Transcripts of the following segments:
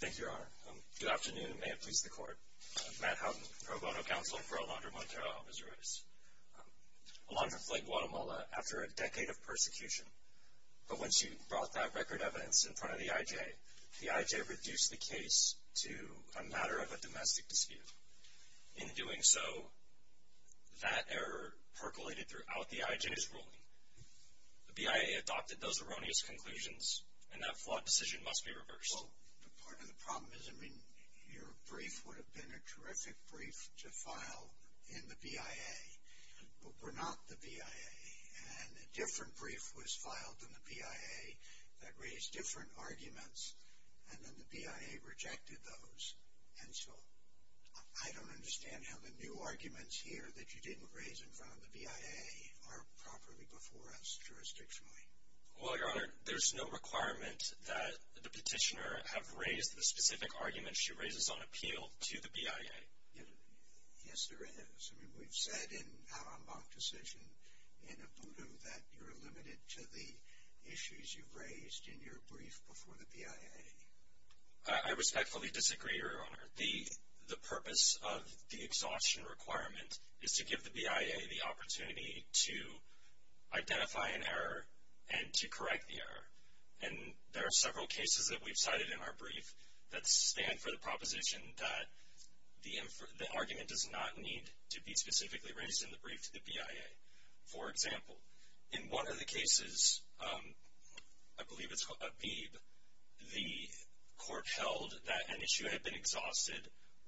Thank you, Your Honor. Good afternoon, and may it please the Court. Matt Houghton, Pro Bono Counsel for Alondra Montero-Alvizures. Alondra fled Guatemala after a decade of persecution, but once she brought that record evidence in front of the IJ, the IJ reduced the case to a matter of a domestic dispute. In doing so, that error percolated throughout the IJ's ruling. The BIA adopted those erroneous conclusions, and that flawed decision must be reversed. Well, part of the problem is, I mean, your brief would have been a terrific brief to file in the BIA, but we're not the BIA. And a different brief was filed in the BIA that raised different arguments, and then the BIA rejected those. And so I don't understand how the new arguments here that you didn't raise in front of the BIA are properly before us jurisdictionally. Well, Your Honor, there's no requirement that the petitioner have raised the specific arguments she raises on appeal to the BIA. Yes, there is. I mean, we've said in our mock decision in Ubudu that you're limited to the issues you've raised in your brief before the BIA. I respectfully disagree, Your Honor. The purpose of the exhaustion requirement is to give the BIA the opportunity to identify an error and to correct the error. And there are several cases that we've cited in our brief that stand for the proposition that the argument does not need to be specifically raised in the brief to the BIA. For example, in one of the cases, I believe it's Habib, the court held that an issue had been exhausted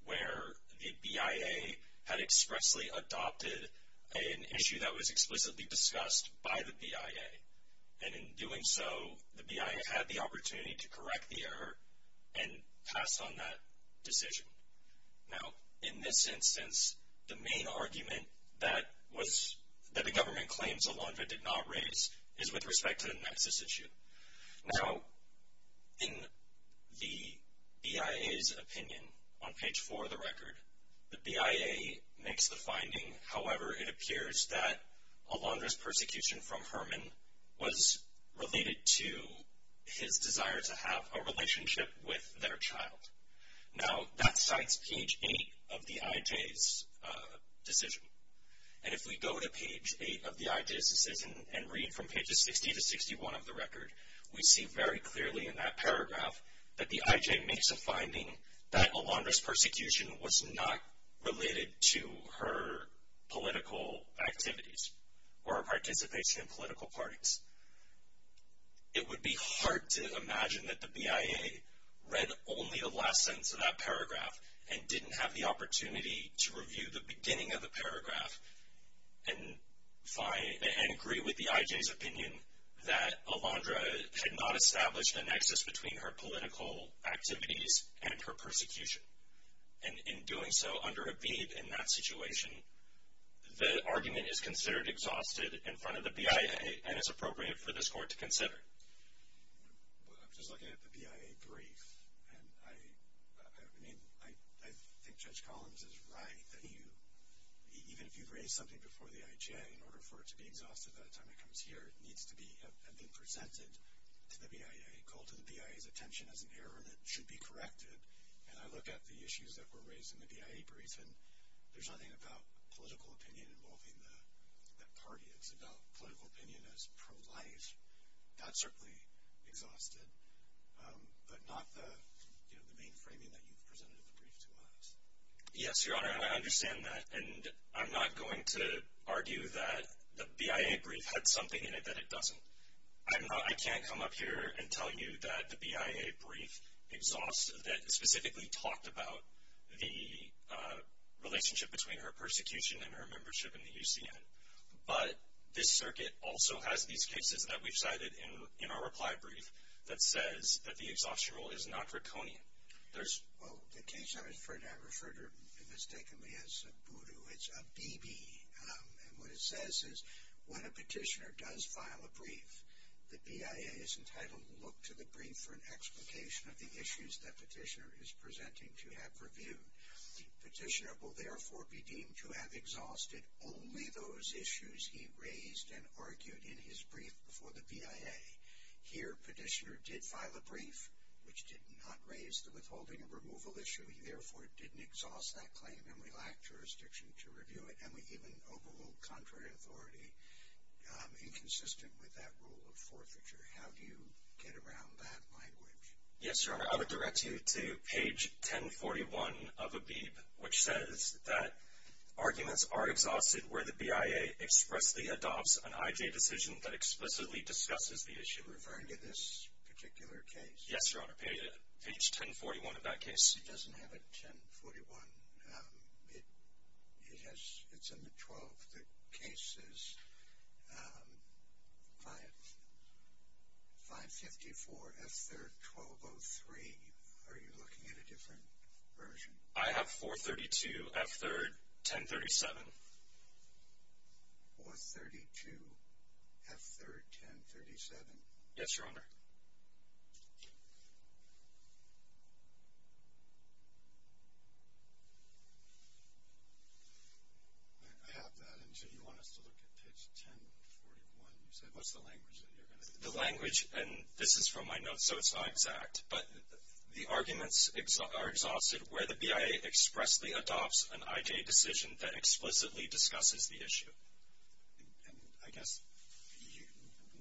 where the BIA had expressly adopted an issue that was explicitly discussed by the BIA. And in doing so, the BIA had the opportunity to correct the error and pass on that decision. Now, in this instance, the main argument that the government claims Alondra did not raise is with respect to the nexus issue. Now, in the BIA's opinion on page 4 of the record, the BIA makes the finding, however, it appears that Alondra's persecution from Herman was related to his desire to have a relationship with their child. Now, that cites page 8 of the IJ's decision. And if we go to page 8 of the IJ's decision and read from pages 60 to 61 of the record, we see very clearly in that paragraph that the IJ makes a finding that Alondra's persecution was not related to her political activities or her participation in political parties. It would be hard to imagine that the BIA read only the last sentence of that paragraph and didn't have the opportunity to review the beginning of the paragraph and agree with the IJ's opinion that Alondra had not established a nexus between her political activities and her persecution. And in doing so under a bead in that situation, the argument is considered exhausted in front of the BIA and is appropriate for this court to consider. I'm just looking at the BIA brief, and I think Judge Collins is right that even if you raise something before the IJ in order for it to be exhausted by the time it comes here, it needs to have been presented to the BIA, called to the BIA's attention as an error, and it should be corrected. And I look at the issues that were raised in the BIA brief, and there's nothing about political opinion involving that party. It's about political opinion as pro-life. That's certainly exhausted, but not the main framing that you've presented the brief to us. Yes, Your Honor, and I understand that. And I'm not going to argue that the BIA brief had something in it that it doesn't. I can't come up here and tell you that the BIA brief exhausts that specifically talked about the relationship between her persecution and her membership in the UCN. But this circuit also has these cases that we've cited in our reply brief that says that the exhaustion rule is not draconian. There's – Well, the case I referred to, if mistakenly, as a voodoo, it's a BB. And what it says is when a petitioner does file a brief, the BIA is entitled to look to the brief for an explication of the issues that petitioner is presenting to have reviewed. The petitioner will, therefore, be deemed to have exhausted only those issues he raised and argued in his brief before the BIA. Here, petitioner did file a brief, which did not raise the withholding and removal issue. He, therefore, didn't exhaust that claim, and we lacked jurisdiction to review it, and we even overruled contrary authority inconsistent with that rule of forfeiture. How do you get around that language? Yes, Your Honor, I would direct you to page 1041 of ABIB, which says that arguments are exhausted where the BIA expressly adopts an IJ decision that explicitly discusses the issue. You're referring to this particular case? Yes, Your Honor, page 1041 of that case. It doesn't have a 1041. It's in the 12, the case is 554 F3rd 1203. Are you looking at a different version? I have 432 F3rd 1037. 432 F3rd 1037? Yes, Your Honor. I have that, and do you want us to look at page 1041? You said, what's the language that you're going to use? The language, and this is from my notes, so it's not exact, but the arguments are exhausted where the BIA expressly adopts an IJ decision that explicitly discusses the issue. I guess,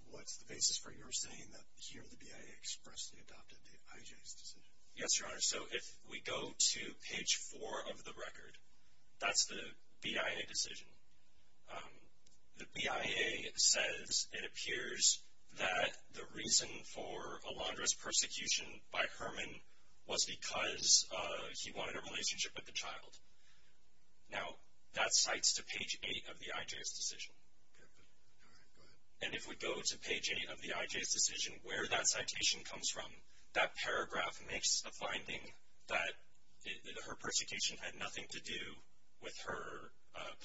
what's the basis for your saying that here the BIA expressly adopted the IJ's decision? Yes, Your Honor, so if we go to page 4 of the record, that's the BIA decision. The BIA says it appears that the reason for Alondra's persecution by Herman was because he wanted a relationship with the child. Now, that cites to page 8 of the IJ's decision. All right, go ahead. And if we go to page 8 of the IJ's decision, where that citation comes from, that paragraph makes a finding that her persecution had nothing to do with her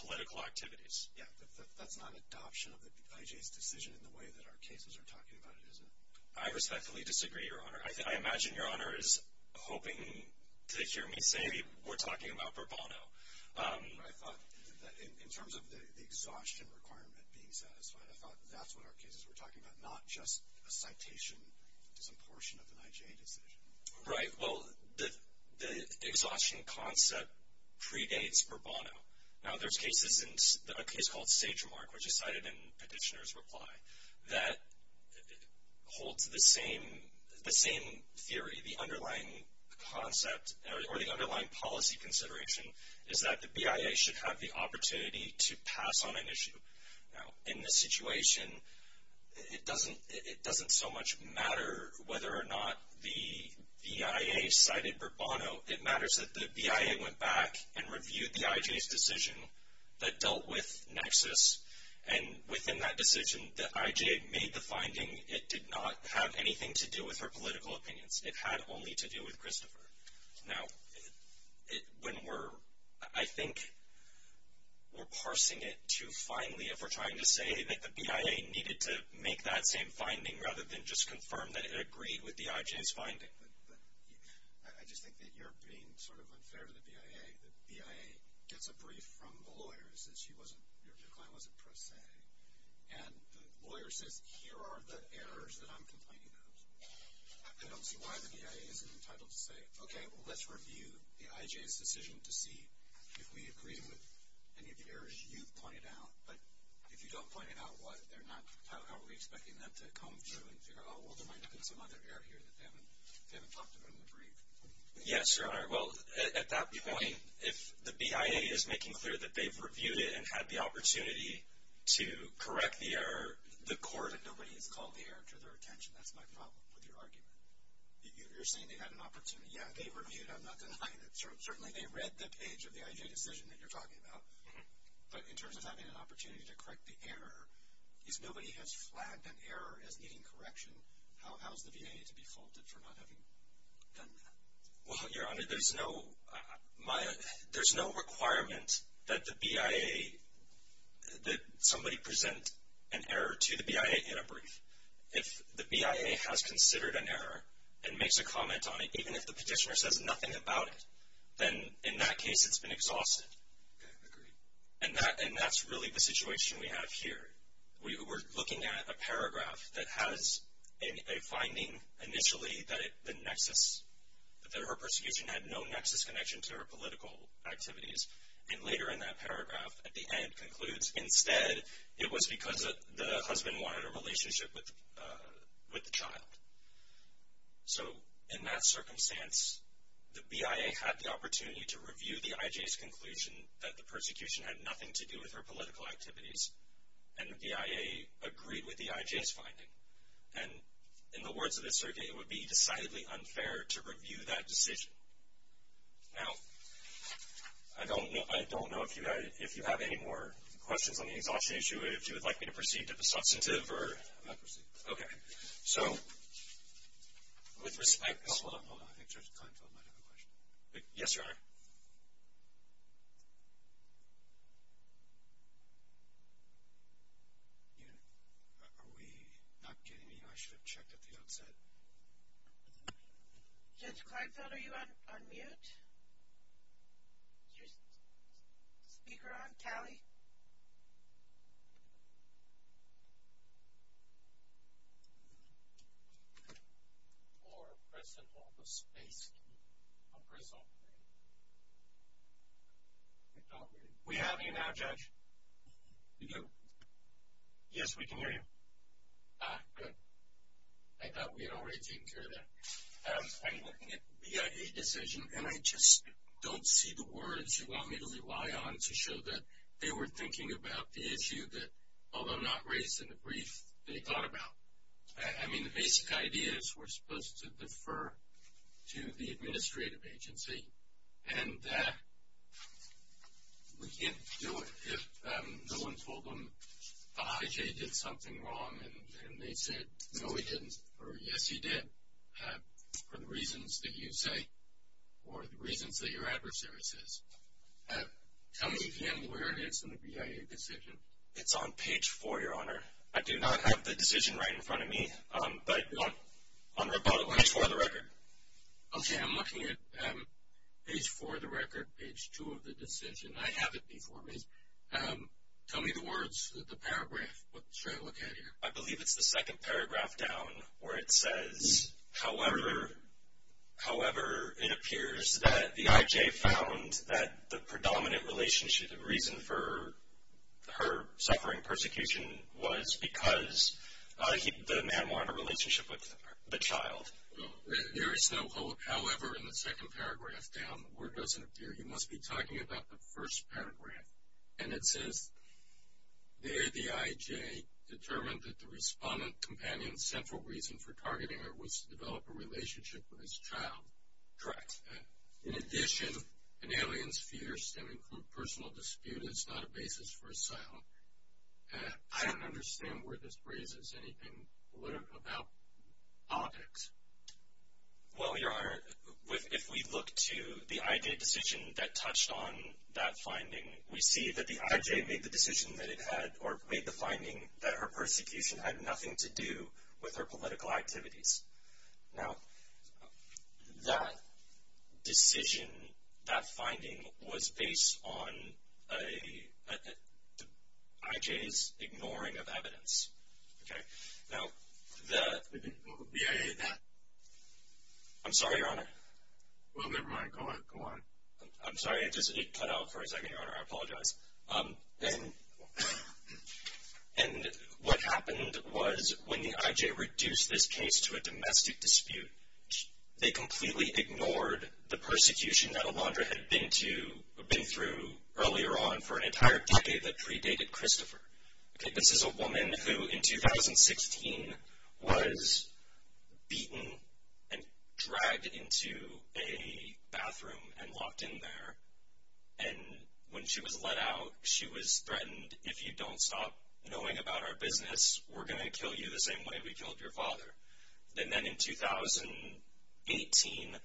political activities. Yes, but that's not an adoption of the IJ's decision in the way that our cases are talking about it, is it? I respectfully disagree, Your Honor. I imagine Your Honor is hoping to hear me say we're talking about Bourbono. I thought that in terms of the exhaustion requirement being satisfied, I thought that's what our cases were talking about, not just a citation, just a portion of an IJ decision. Right, well, the exhaustion concept predates Bourbono. Now, there's cases in a case called Sagemark, which is cited in Petitioner's reply, that holds the same theory. The underlying policy consideration is that the BIA should have the opportunity to pass on an issue. Now, in this situation, it doesn't so much matter whether or not the BIA cited Bourbono. It matters that the BIA went back and reviewed the IJ's decision that dealt with Nexus, and within that decision, the IJ made the finding it did not have anything to do with her political opinions. It had only to do with Christopher. Now, when we're, I think, we're parsing it too finely if we're trying to say that the BIA needed to make that same finding rather than just confirm that it agreed with the IJ's finding. Right, but I just think that you're being sort of unfair to the BIA. The BIA gets a brief from the lawyer and says she wasn't, your claim wasn't pressed say. And the lawyer says, here are the errors that I'm complaining about. I don't see why the BIA isn't entitled to say, okay, well, let's review the IJ's decision to see if we agree with any of the errors you've pointed out. But if you don't point out what, they're not, how are we expecting them to come through and figure out, oh, well, there might have been some other error here that they haven't talked about in the brief. Yes, sir. All right, well, at that point, if the BIA is making clear that they've reviewed it and had the opportunity to correct the error, the court. But nobody has called the error to their attention. That's my problem with your argument. You're saying they had an opportunity. Yeah, they reviewed it. I'm not denying that. Certainly, they read the page of the IJ decision that you're talking about. But in terms of having an opportunity to correct the error, if nobody has flagged an error as needing correction, how is the BIA to be faulted for not having done that? Well, Your Honor, there's no requirement that the BIA, that somebody present an error to the BIA in a brief. If the BIA has considered an error and makes a comment on it, even if the petitioner says nothing about it, then in that case, it's been exhausted. Okay, agreed. And that's really the situation we have here. We're looking at a paragraph that has a finding initially that the nexus, that her persecution had no nexus connection to her political activities. And later in that paragraph, at the end, concludes, instead, it was because the husband wanted a relationship with the child. So, in that circumstance, the BIA had the opportunity to review the IJ's conclusion that the persecution had nothing to do with her political activities. And the BIA agreed with the IJ's finding. And in the words of the circuit, it would be decidedly unfair to review that decision. Now, I don't know if you have any more questions on the exhaustion issue. If you would like me to proceed to the substantive or... I'll proceed. Okay. So, with respect to... Hold on, hold on. I think Judge Kleinfeld might have a question. Yes, Your Honor. Are we not getting to you? I should have checked at the onset. Judge Kleinfeld, are you on mute? Is your speaker on, Tally? Or press and hold the space key. I'll press all three. We have you now, Judge. You do? Yes, we can hear you. Ah, good. I thought we had already taken care of that. I'm looking at the BIA decision, and I just don't see the words you want me to rely on to show that they were thinking about the issue that, although not raised in the brief, they thought about. I mean, the basic idea is we're supposed to defer to the administrative agency, and we can't do it if no one told them the IJ did something wrong and they said, No, we didn't. Or, yes, you did, for the reasons that you say or the reasons that your adversary says. Tell me again where it is in the BIA decision. It's on page four, Your Honor. I do not have the decision right in front of me, but on rebuttal. Page four of the record. Okay, I'm looking at page four of the record, page two of the decision. I have it before me. Tell me the words, the paragraph. What should I look at here? I believe it's the second paragraph down where it says, However, it appears that the IJ found that the predominant relationship and reason for her suffering persecution was because the man wanted a relationship with the child. There is no however in the second paragraph down. The word doesn't appear. You must be talking about the first paragraph. And it says there the IJ determined that the respondent companion's central reason for targeting her was to develop a relationship with his child. Correct. In addition, an alien's fear stemming from a personal dispute is not a basis for asylum. I don't understand where this raises anything political about objects. Well, Your Honor, if we look to the IJ decision that touched on that finding, we see that the IJ made the decision that it had or made the finding that her persecution had nothing to do with her political activities. Now, that decision, that finding was based on IJ's ignoring of evidence. Okay. Now, the. Yeah, yeah, yeah. I'm sorry, Your Honor. Well, never mind. Go on. I'm sorry. It just cut out for a second, Your Honor. I apologize. And what happened was when the IJ reduced this case to a domestic dispute, they completely ignored the persecution that Alondra had been through earlier on for an entire decade that predated Christopher. Okay. This is a woman who in 2016 was beaten and dragged into a bathroom and locked in there, and when she was let out, she was threatened, if you don't stop knowing about our business, we're going to kill you the same way we killed your father. And then in 2018,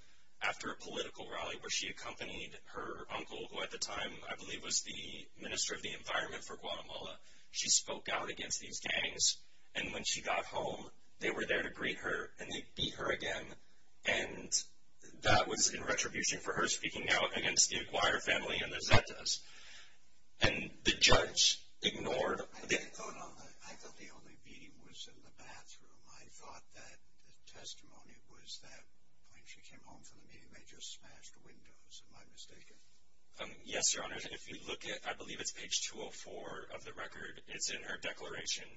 after a political rally where she accompanied her uncle, who at the time I believe was the minister of the environment for Guatemala, she spoke out against these gangs, and when she got home, they were there to greet her, and they beat her again, and that was in retribution for her speaking out against the Acquire family and the Zetas. And the judge ignored. I thought the only beating was in the bathroom. I thought that the testimony was that when she came home from the meeting, they just smashed windows, am I mistaken? Yes, Your Honor. If you look at, I believe it's page 204 of the record, it's in her declaration.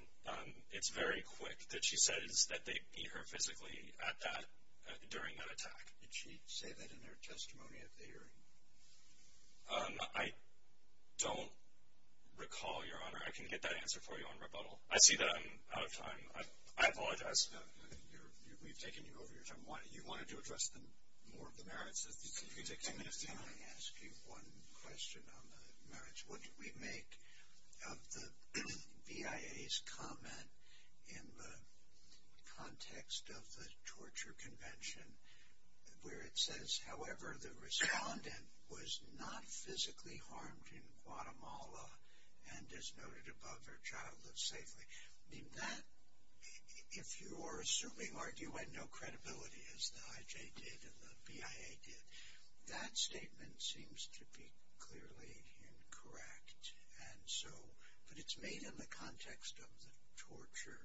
It's very quick that she says that they beat her physically during that attack. Did she say that in her testimony at the hearing? I don't recall, Your Honor. I can get that answer for you on rebuttal. I see that I'm out of time. I apologize. We've taken you over your time. You wanted to address more of the merits. If you could take ten minutes to do that. Can I ask you one question on the merits? What do we make of the BIA's comment in the context of the torture convention where it says, however, the respondent was not physically harmed in Guatemala and, as noted above, her child lived safely? That, if you are assuming arguendo credibility, as the IJ did and the BIA did, that statement seems to be clearly incorrect. But it's made in the context of the torture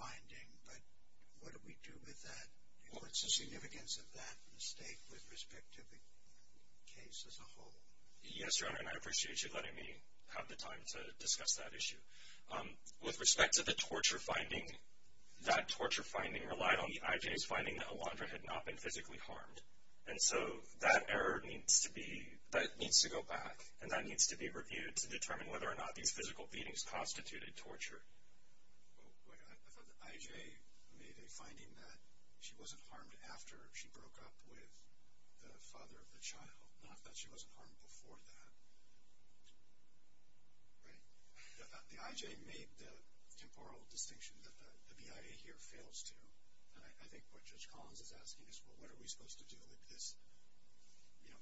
finding, but what do we do with that? What's the significance of that mistake with respect to the case as a whole? Yes, Your Honor, and I appreciate you letting me have the time to discuss that issue. With respect to the torture finding, that torture finding relied on the IJ's finding that Alondra had not been physically harmed. And so that error needs to go back, and that needs to be reviewed to determine whether or not these physical beatings constituted torture. I thought the IJ made a finding that she wasn't harmed after she broke up with the father of the child, not that she wasn't harmed before that. Right. The IJ made the temporal distinction that the BIA here fails to, and I think what Judge Collins is asking is, well, what are we supposed to do with this? You know,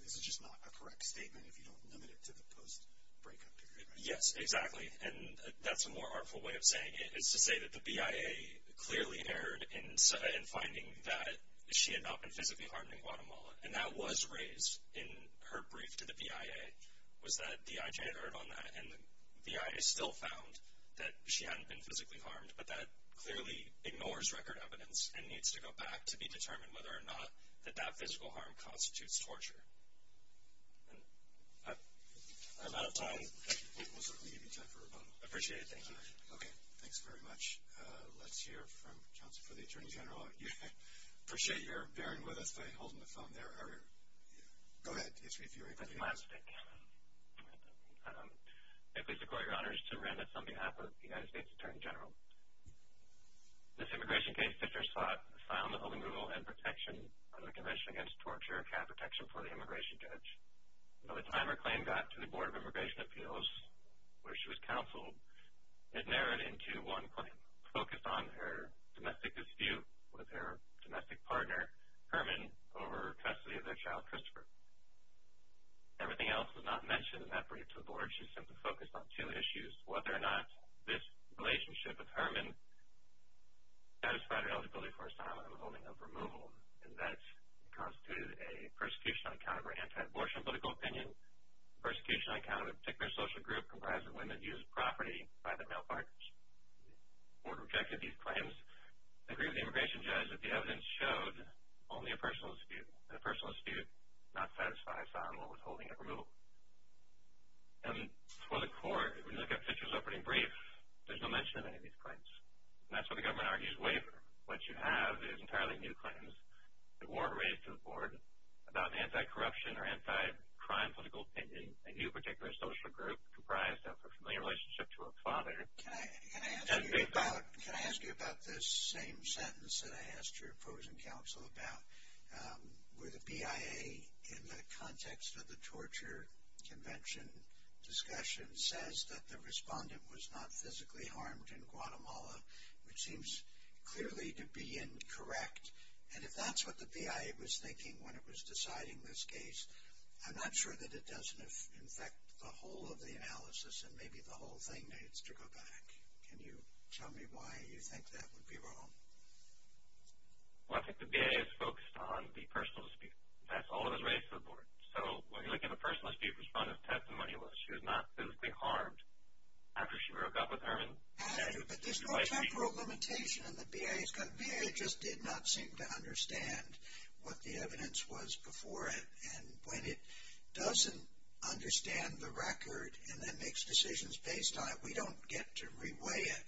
this is just not a correct statement if you don't limit it to the post-breakup period, right? Yes, exactly, and that's a more artful way of saying it, is to say that the BIA clearly erred in finding that she had not been physically harmed in Guatemala, and that was raised in her brief to the BIA, was that the IJ erred on that, and the BIA still found that she hadn't been physically harmed, but that clearly ignores record evidence and needs to go back to be determined whether or not that that physical harm constitutes torture. I'm out of time. We'll certainly give you time for a moment. I appreciate it. Thank you. Okay. Thanks very much. Let's hear from counsel for the Attorney General. I appreciate your bearing with us by holding the phone there. Go ahead. It's me, if you're able to hear us. I'm a domestic. I please accord your honors to Miranda, on behalf of the United States Attorney General. This immigration case fit her spot, a file on the holding rule and protection of the Convention Against Torture had protection for the immigration judge. By the time her claim got to the Board of Immigration Appeals, where she was counseled, it narrowed into one claim, focused on her domestic dispute with her domestic partner, Herman, over custody of their child, Christopher. Everything else was not mentioned in that brief to the Board. She simply focused on two issues, whether or not this relationship with Herman satisfied her eligibility for asylum and the holding of removal, and that it constituted a persecution on account of her anti-abortion political opinion, and a persecution on account of a particular social group comprised of women who used property by their male partners. The Board rejected these claims, and agreed with the immigration judge that the evidence showed only a personal dispute, and a personal dispute not satisfied asylum or withholding of removal. And for the Court, when you look at Fitcher's opening brief, there's no mention of any of these claims. And that's what the government argues waiver. What you have is entirely new claims that weren't raised to the Board about anti-corruption or anti-crime political opinion, a new particular social group comprised of a familiar relationship to a father. Can I ask you about this same sentence that I asked your opposing counsel about, where the BIA, in the context of the torture convention discussion, says that the respondent was not physically harmed in Guatemala, which seems clearly to be incorrect. And if that's what the BIA was thinking when it was deciding this case, I'm not sure that it doesn't, in fact, affect the whole of the analysis, and maybe the whole thing needs to go back. Can you tell me why you think that would be wrong? Well, I think the BIA is focused on the personal dispute. That's all it has raised to the Board. So, when you look at a personal dispute, the respondent's testimony was she was not physically harmed after she broke up with her. But there's no temporal limitation in the BIA, because the BIA just did not seem to understand what the evidence was before it, and when it doesn't understand the record and then makes decisions based on it, we don't get to reweigh it.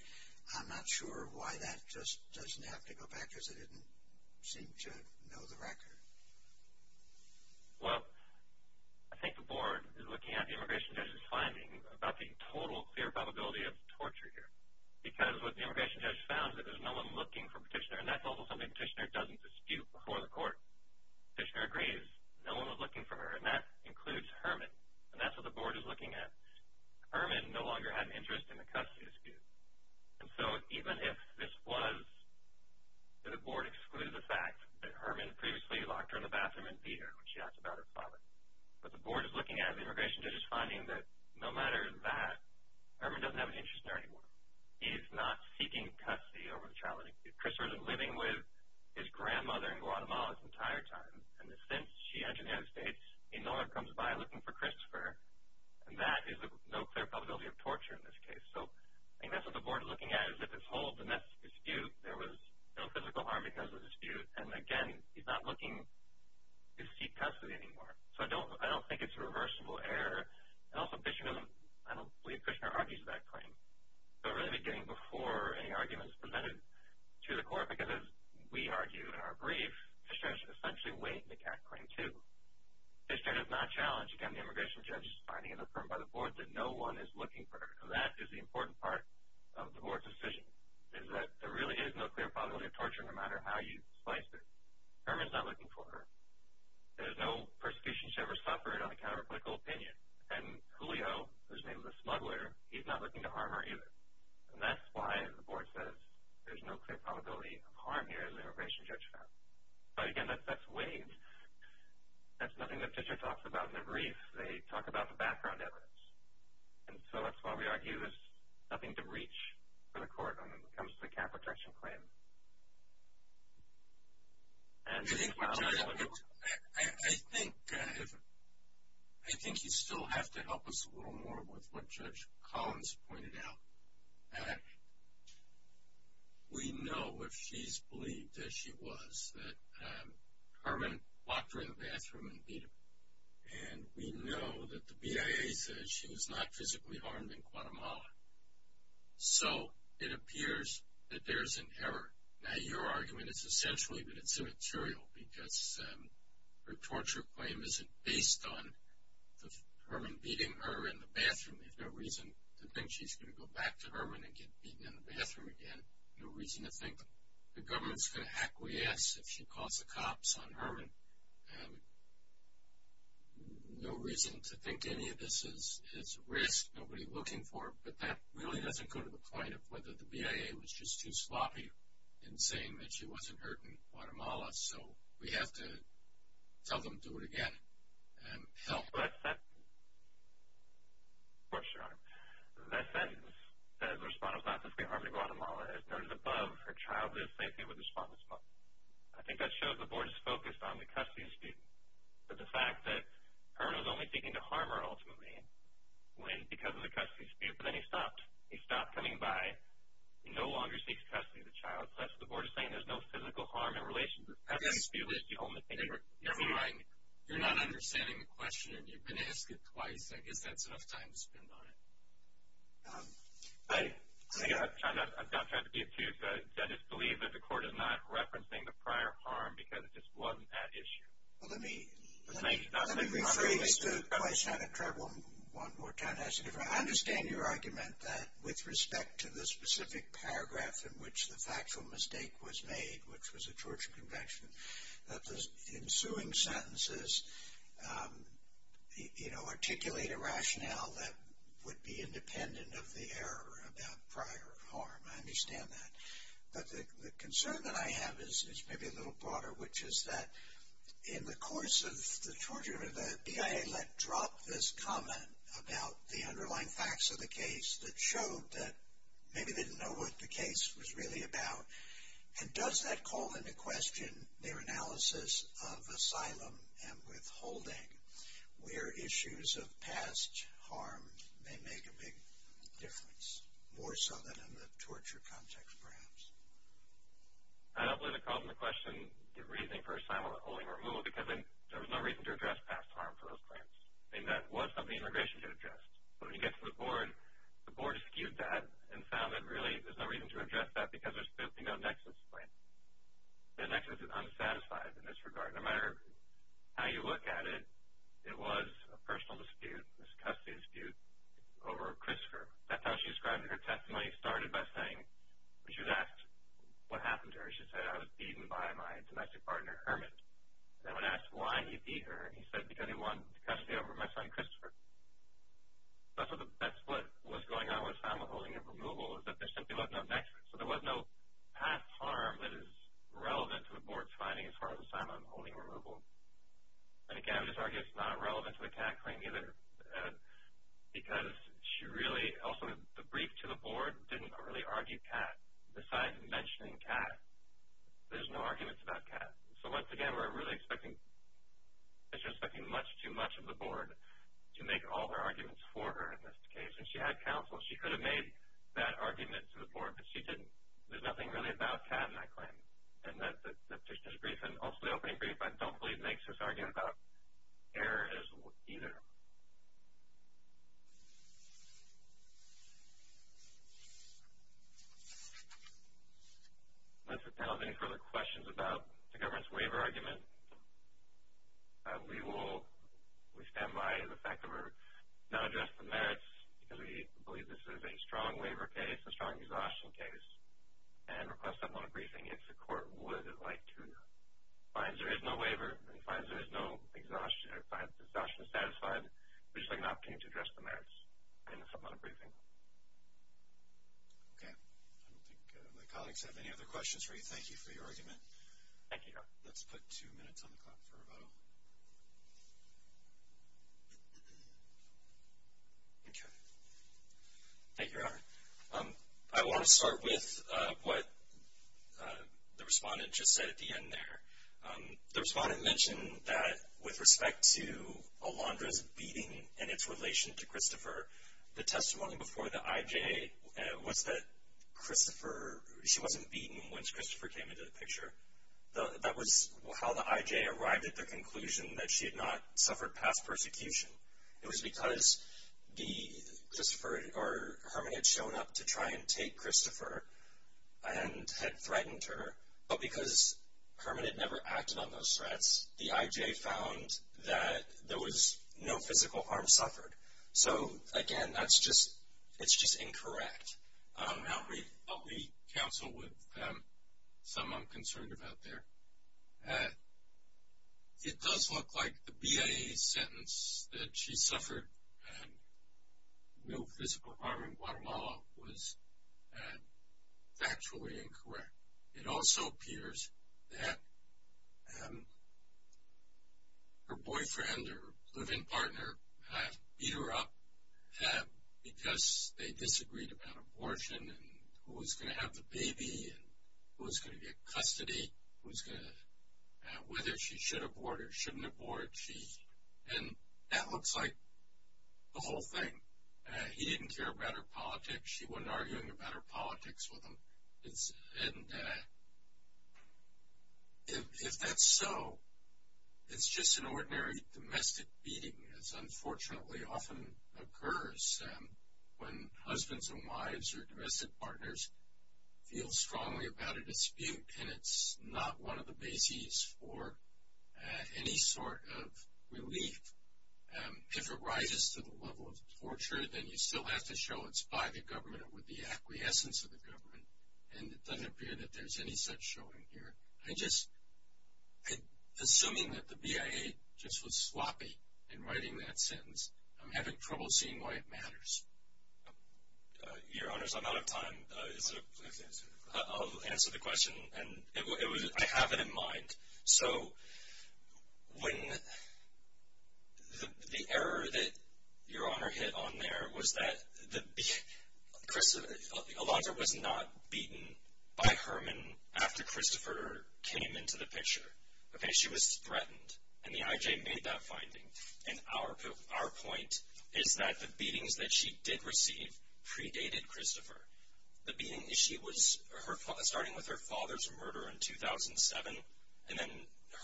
I'm not sure why that just doesn't have to go back, because it didn't seem to know the record. Well, I think the Board is looking at the immigration judge's finding about the total clear probability of torture here, because what the immigration judge found is that there's no one looking for Petitioner, and that's also something Petitioner doesn't dispute before the court. Petitioner agrees no one was looking for her, and that includes Herman. And that's what the Board is looking at. Herman no longer had an interest in the custody dispute. And so, even if this was that the Board excluded the fact that Herman previously locked her in the bathroom and beat her when she asked about her father, but the Board is looking at the immigration judge's finding that no matter that, Herman doesn't have an interest in her anymore. He is not seeking custody over the child. Christopher has been living with his grandmother in Guatemala his entire time, and since she entered the United States, he no longer comes by looking for Christopher, and that is a no clear probability of torture in this case. So, I think that's what the Board is looking at, is if it's hold, then that's a dispute. There was no physical harm because of the dispute. And again, he's not looking to seek custody anymore. So I don't think it's a reversible error. And also, I don't believe Petitioner argues that claim. So it really would be getting before any arguments presented to the court, because as we argue in our brief, Petitioner should essentially wait to make Act Claim 2. Petitioner does not challenge, again, the immigration judge's finding and affirmed by the Board that no one is looking for her. And that is the important part of the Board's decision, is that there really is no clear probability of torture no matter how you splice it. Herman's not looking for her. There's no persecution she ever suffered on account of a political opinion. And Julio, whose name is a smuggler, he's not looking to harm her either. And that's why the Board says there's no clear probability of harm here in the immigration judge's finding. But again, that's waived. That's nothing that Petitioner talks about in their brief. They talk about the background evidence. And so that's why we argue there's nothing to reach for the court when it comes to the cap protection claim. I think you still have to help us a little more with what Judge Collins pointed out. We know, if she's believed as she was, that Herman walked her in the bathroom and beat her. And we know that the BIA says she was not physically harmed in Guatemala. So it appears that there's an error. Now, your argument is essentially that it's immaterial because her torture claim isn't based on Herman beating her in the bathroom. There's no reason to think she's going to go back to Herman and get beaten in the bathroom again. No reason to think the government's going to acquiesce if she calls the cops on Herman. No reason to think any of this is at risk, nobody looking for it. But that really doesn't go to the point of whether the BIA was just too sloppy in saying that she wasn't hurt in Guatemala. So we have to tell them to do it again and help. Of course, Your Honor. That sentence says the respondent was not physically harmed in Guatemala. As noted above, her child lived safely with the respondent's mother. I think that shows the Board is focused on the custody dispute, but the fact that Herman was only seeking to harm her ultimately because of the custody dispute. But then he stopped. He stopped coming by. He no longer seeks custody of the child. So that's what the Board is saying. There's no physical harm in relation to the custody dispute. You're not understanding the question, and you've been asked it twice. I guess that's enough time to spend on it. I've got time. I've got time to be obtuse. I just believe that the Court is not referencing the prior harm because it just wasn't that issue. Let me rephrase the question. I understand your argument that with respect to the specific paragraph in which the factual mistake was made, which was the Georgia Convention, that the ensuing sentences articulate a rationale that would be independent of the error about prior harm. I understand that. But the concern that I have is maybe a little broader, which is that in the course of the Georgia Convention, the BIA let drop this comment about the underlying facts of the case that showed that maybe they didn't know what the case was really about. And does that call into question their analysis of asylum and withholding, where issues of past harm may make a big difference, more so than in the torture context, perhaps? I don't believe it calls into question the reasoning for asylum and withholding removal because there was no reason to address past harm for those claims. And that was something immigration did address. But when you get to the Board, the Board eschewed that and found that really there's no reason to address that because there's simply no nexus for it. The nexus is unsatisfied in this regard. No matter how you look at it, it was a personal dispute, a custody dispute over Christopher. That's how she described her testimony. It started by saying she was asked what happened to her. She said, I was beaten by my domestic partner, Herman. And when asked why he beat her, he said because he wanted custody over my son, Christopher. That's what was going on with asylum and withholding removal, is that there simply was no nexus. So there was no past harm that is relevant to the Board's finding as far as asylum and withholding removal. And, again, I would just argue it's not relevant to the CAT claim either because she really also, the brief to the Board didn't really argue CAT. Besides mentioning CAT, there's no arguments about CAT. So, once again, we're really expecting, the petitioner is expecting much too much of the Board to make all her arguments for her in this case. And she had counsel. She could have made that argument to the Board, but she didn't. There's nothing really about CAT in that claim. And the petitioner's brief and also the opening brief, I don't believe, makes this argument about error either. Unless the panel has any further questions about the government's waiver argument, we will stand by the fact that we're not addressing the merits because we believe this is a strong waiver case, a strong exhaustion case, and request that moment of briefing if the court would like to find there is no waiver and finds there is no exhaustion satisfied, which is an opportunity to address the merits in a moment of briefing. Okay. I don't think my colleagues have any other questions for you. Thank you for your argument. Thank you, Your Honor. Let's put two minutes on the clock for rebuttal. Okay. Thank you, Your Honor. I want to start with what the respondent just said at the end there. The respondent mentioned that with respect to Alondra's beating and its relation to Christopher, the testimony before the IJ was that she wasn't beaten once Christopher came into the picture. That was how the IJ arrived at the conclusion that she had not suffered past persecution. It was because Herman had shown up to try and take Christopher and had threatened her, but because Herman had never acted on those threats, the IJ found that there was no physical harm suffered. So, again, that's just incorrect. I'll re-counsel with some I'm concerned about there. It does look like the BIA sentence that she suffered no physical harm in Guatemala was factually incorrect. It also appears that her boyfriend or live-in partner beat her up because they disagreed about abortion and who was going to have the baby and who was going to get custody, whether she should abort or shouldn't abort, and that looks like the whole thing. He didn't care about her politics. She wasn't arguing about her politics with him, and if that's so, it's just an ordinary domestic beating, as unfortunately often occurs when husbands and wives or domestic partners feel strongly about a dispute, and it's not one of the bases for any sort of relief. If it rises to the level of torture, then you still have to show it's by the government or with the acquiescence of the government, and it doesn't appear that there's any such showing here. Assuming that the BIA just was sloppy in writing that sentence, I'm having trouble seeing why it matters. Your Honors, I'm out of time. I'll answer the question. I have it in mind. So when the error that Your Honor hit on there was that Alondra was not beaten by Herman after Christopher came into the picture. Okay? She was threatened, and the IJ made that finding, and our point is that the beatings that she did receive predated Christopher. The beating, she was starting with her father's murder in 2007, and then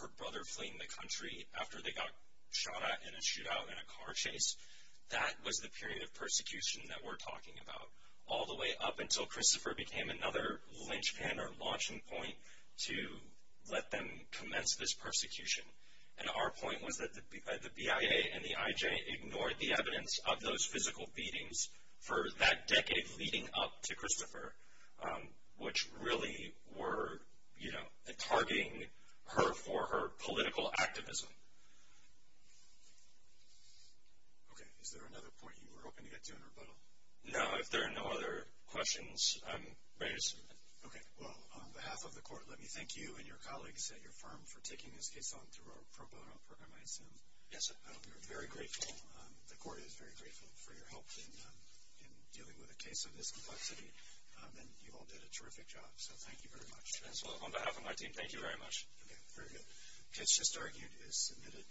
her brother fleeing the country after they got shot at in a shootout in a car chase. That was the period of persecution that we're talking about, all the way up until Christopher became another linchpin or launching point to let them commence this persecution. And our point was that the BIA and the IJ ignored the evidence of those physical beatings for that decade leading up to Christopher, which really were, you know, targeting her for her political activism. Okay, is there another point you were hoping to get to in rebuttal? No, if there are no other questions, I'm ready to submit. Okay, well, on behalf of the court, let me thank you and your colleagues at your firm for taking this case on through our pro bono program ISM. Yes, sir. We're very grateful. The court is very grateful for your help in dealing with a case of this complexity, and you all did a terrific job. So thank you very much. Yes, well, on behalf of my team, thank you very much. Okay, very good. The case just argued is submitted.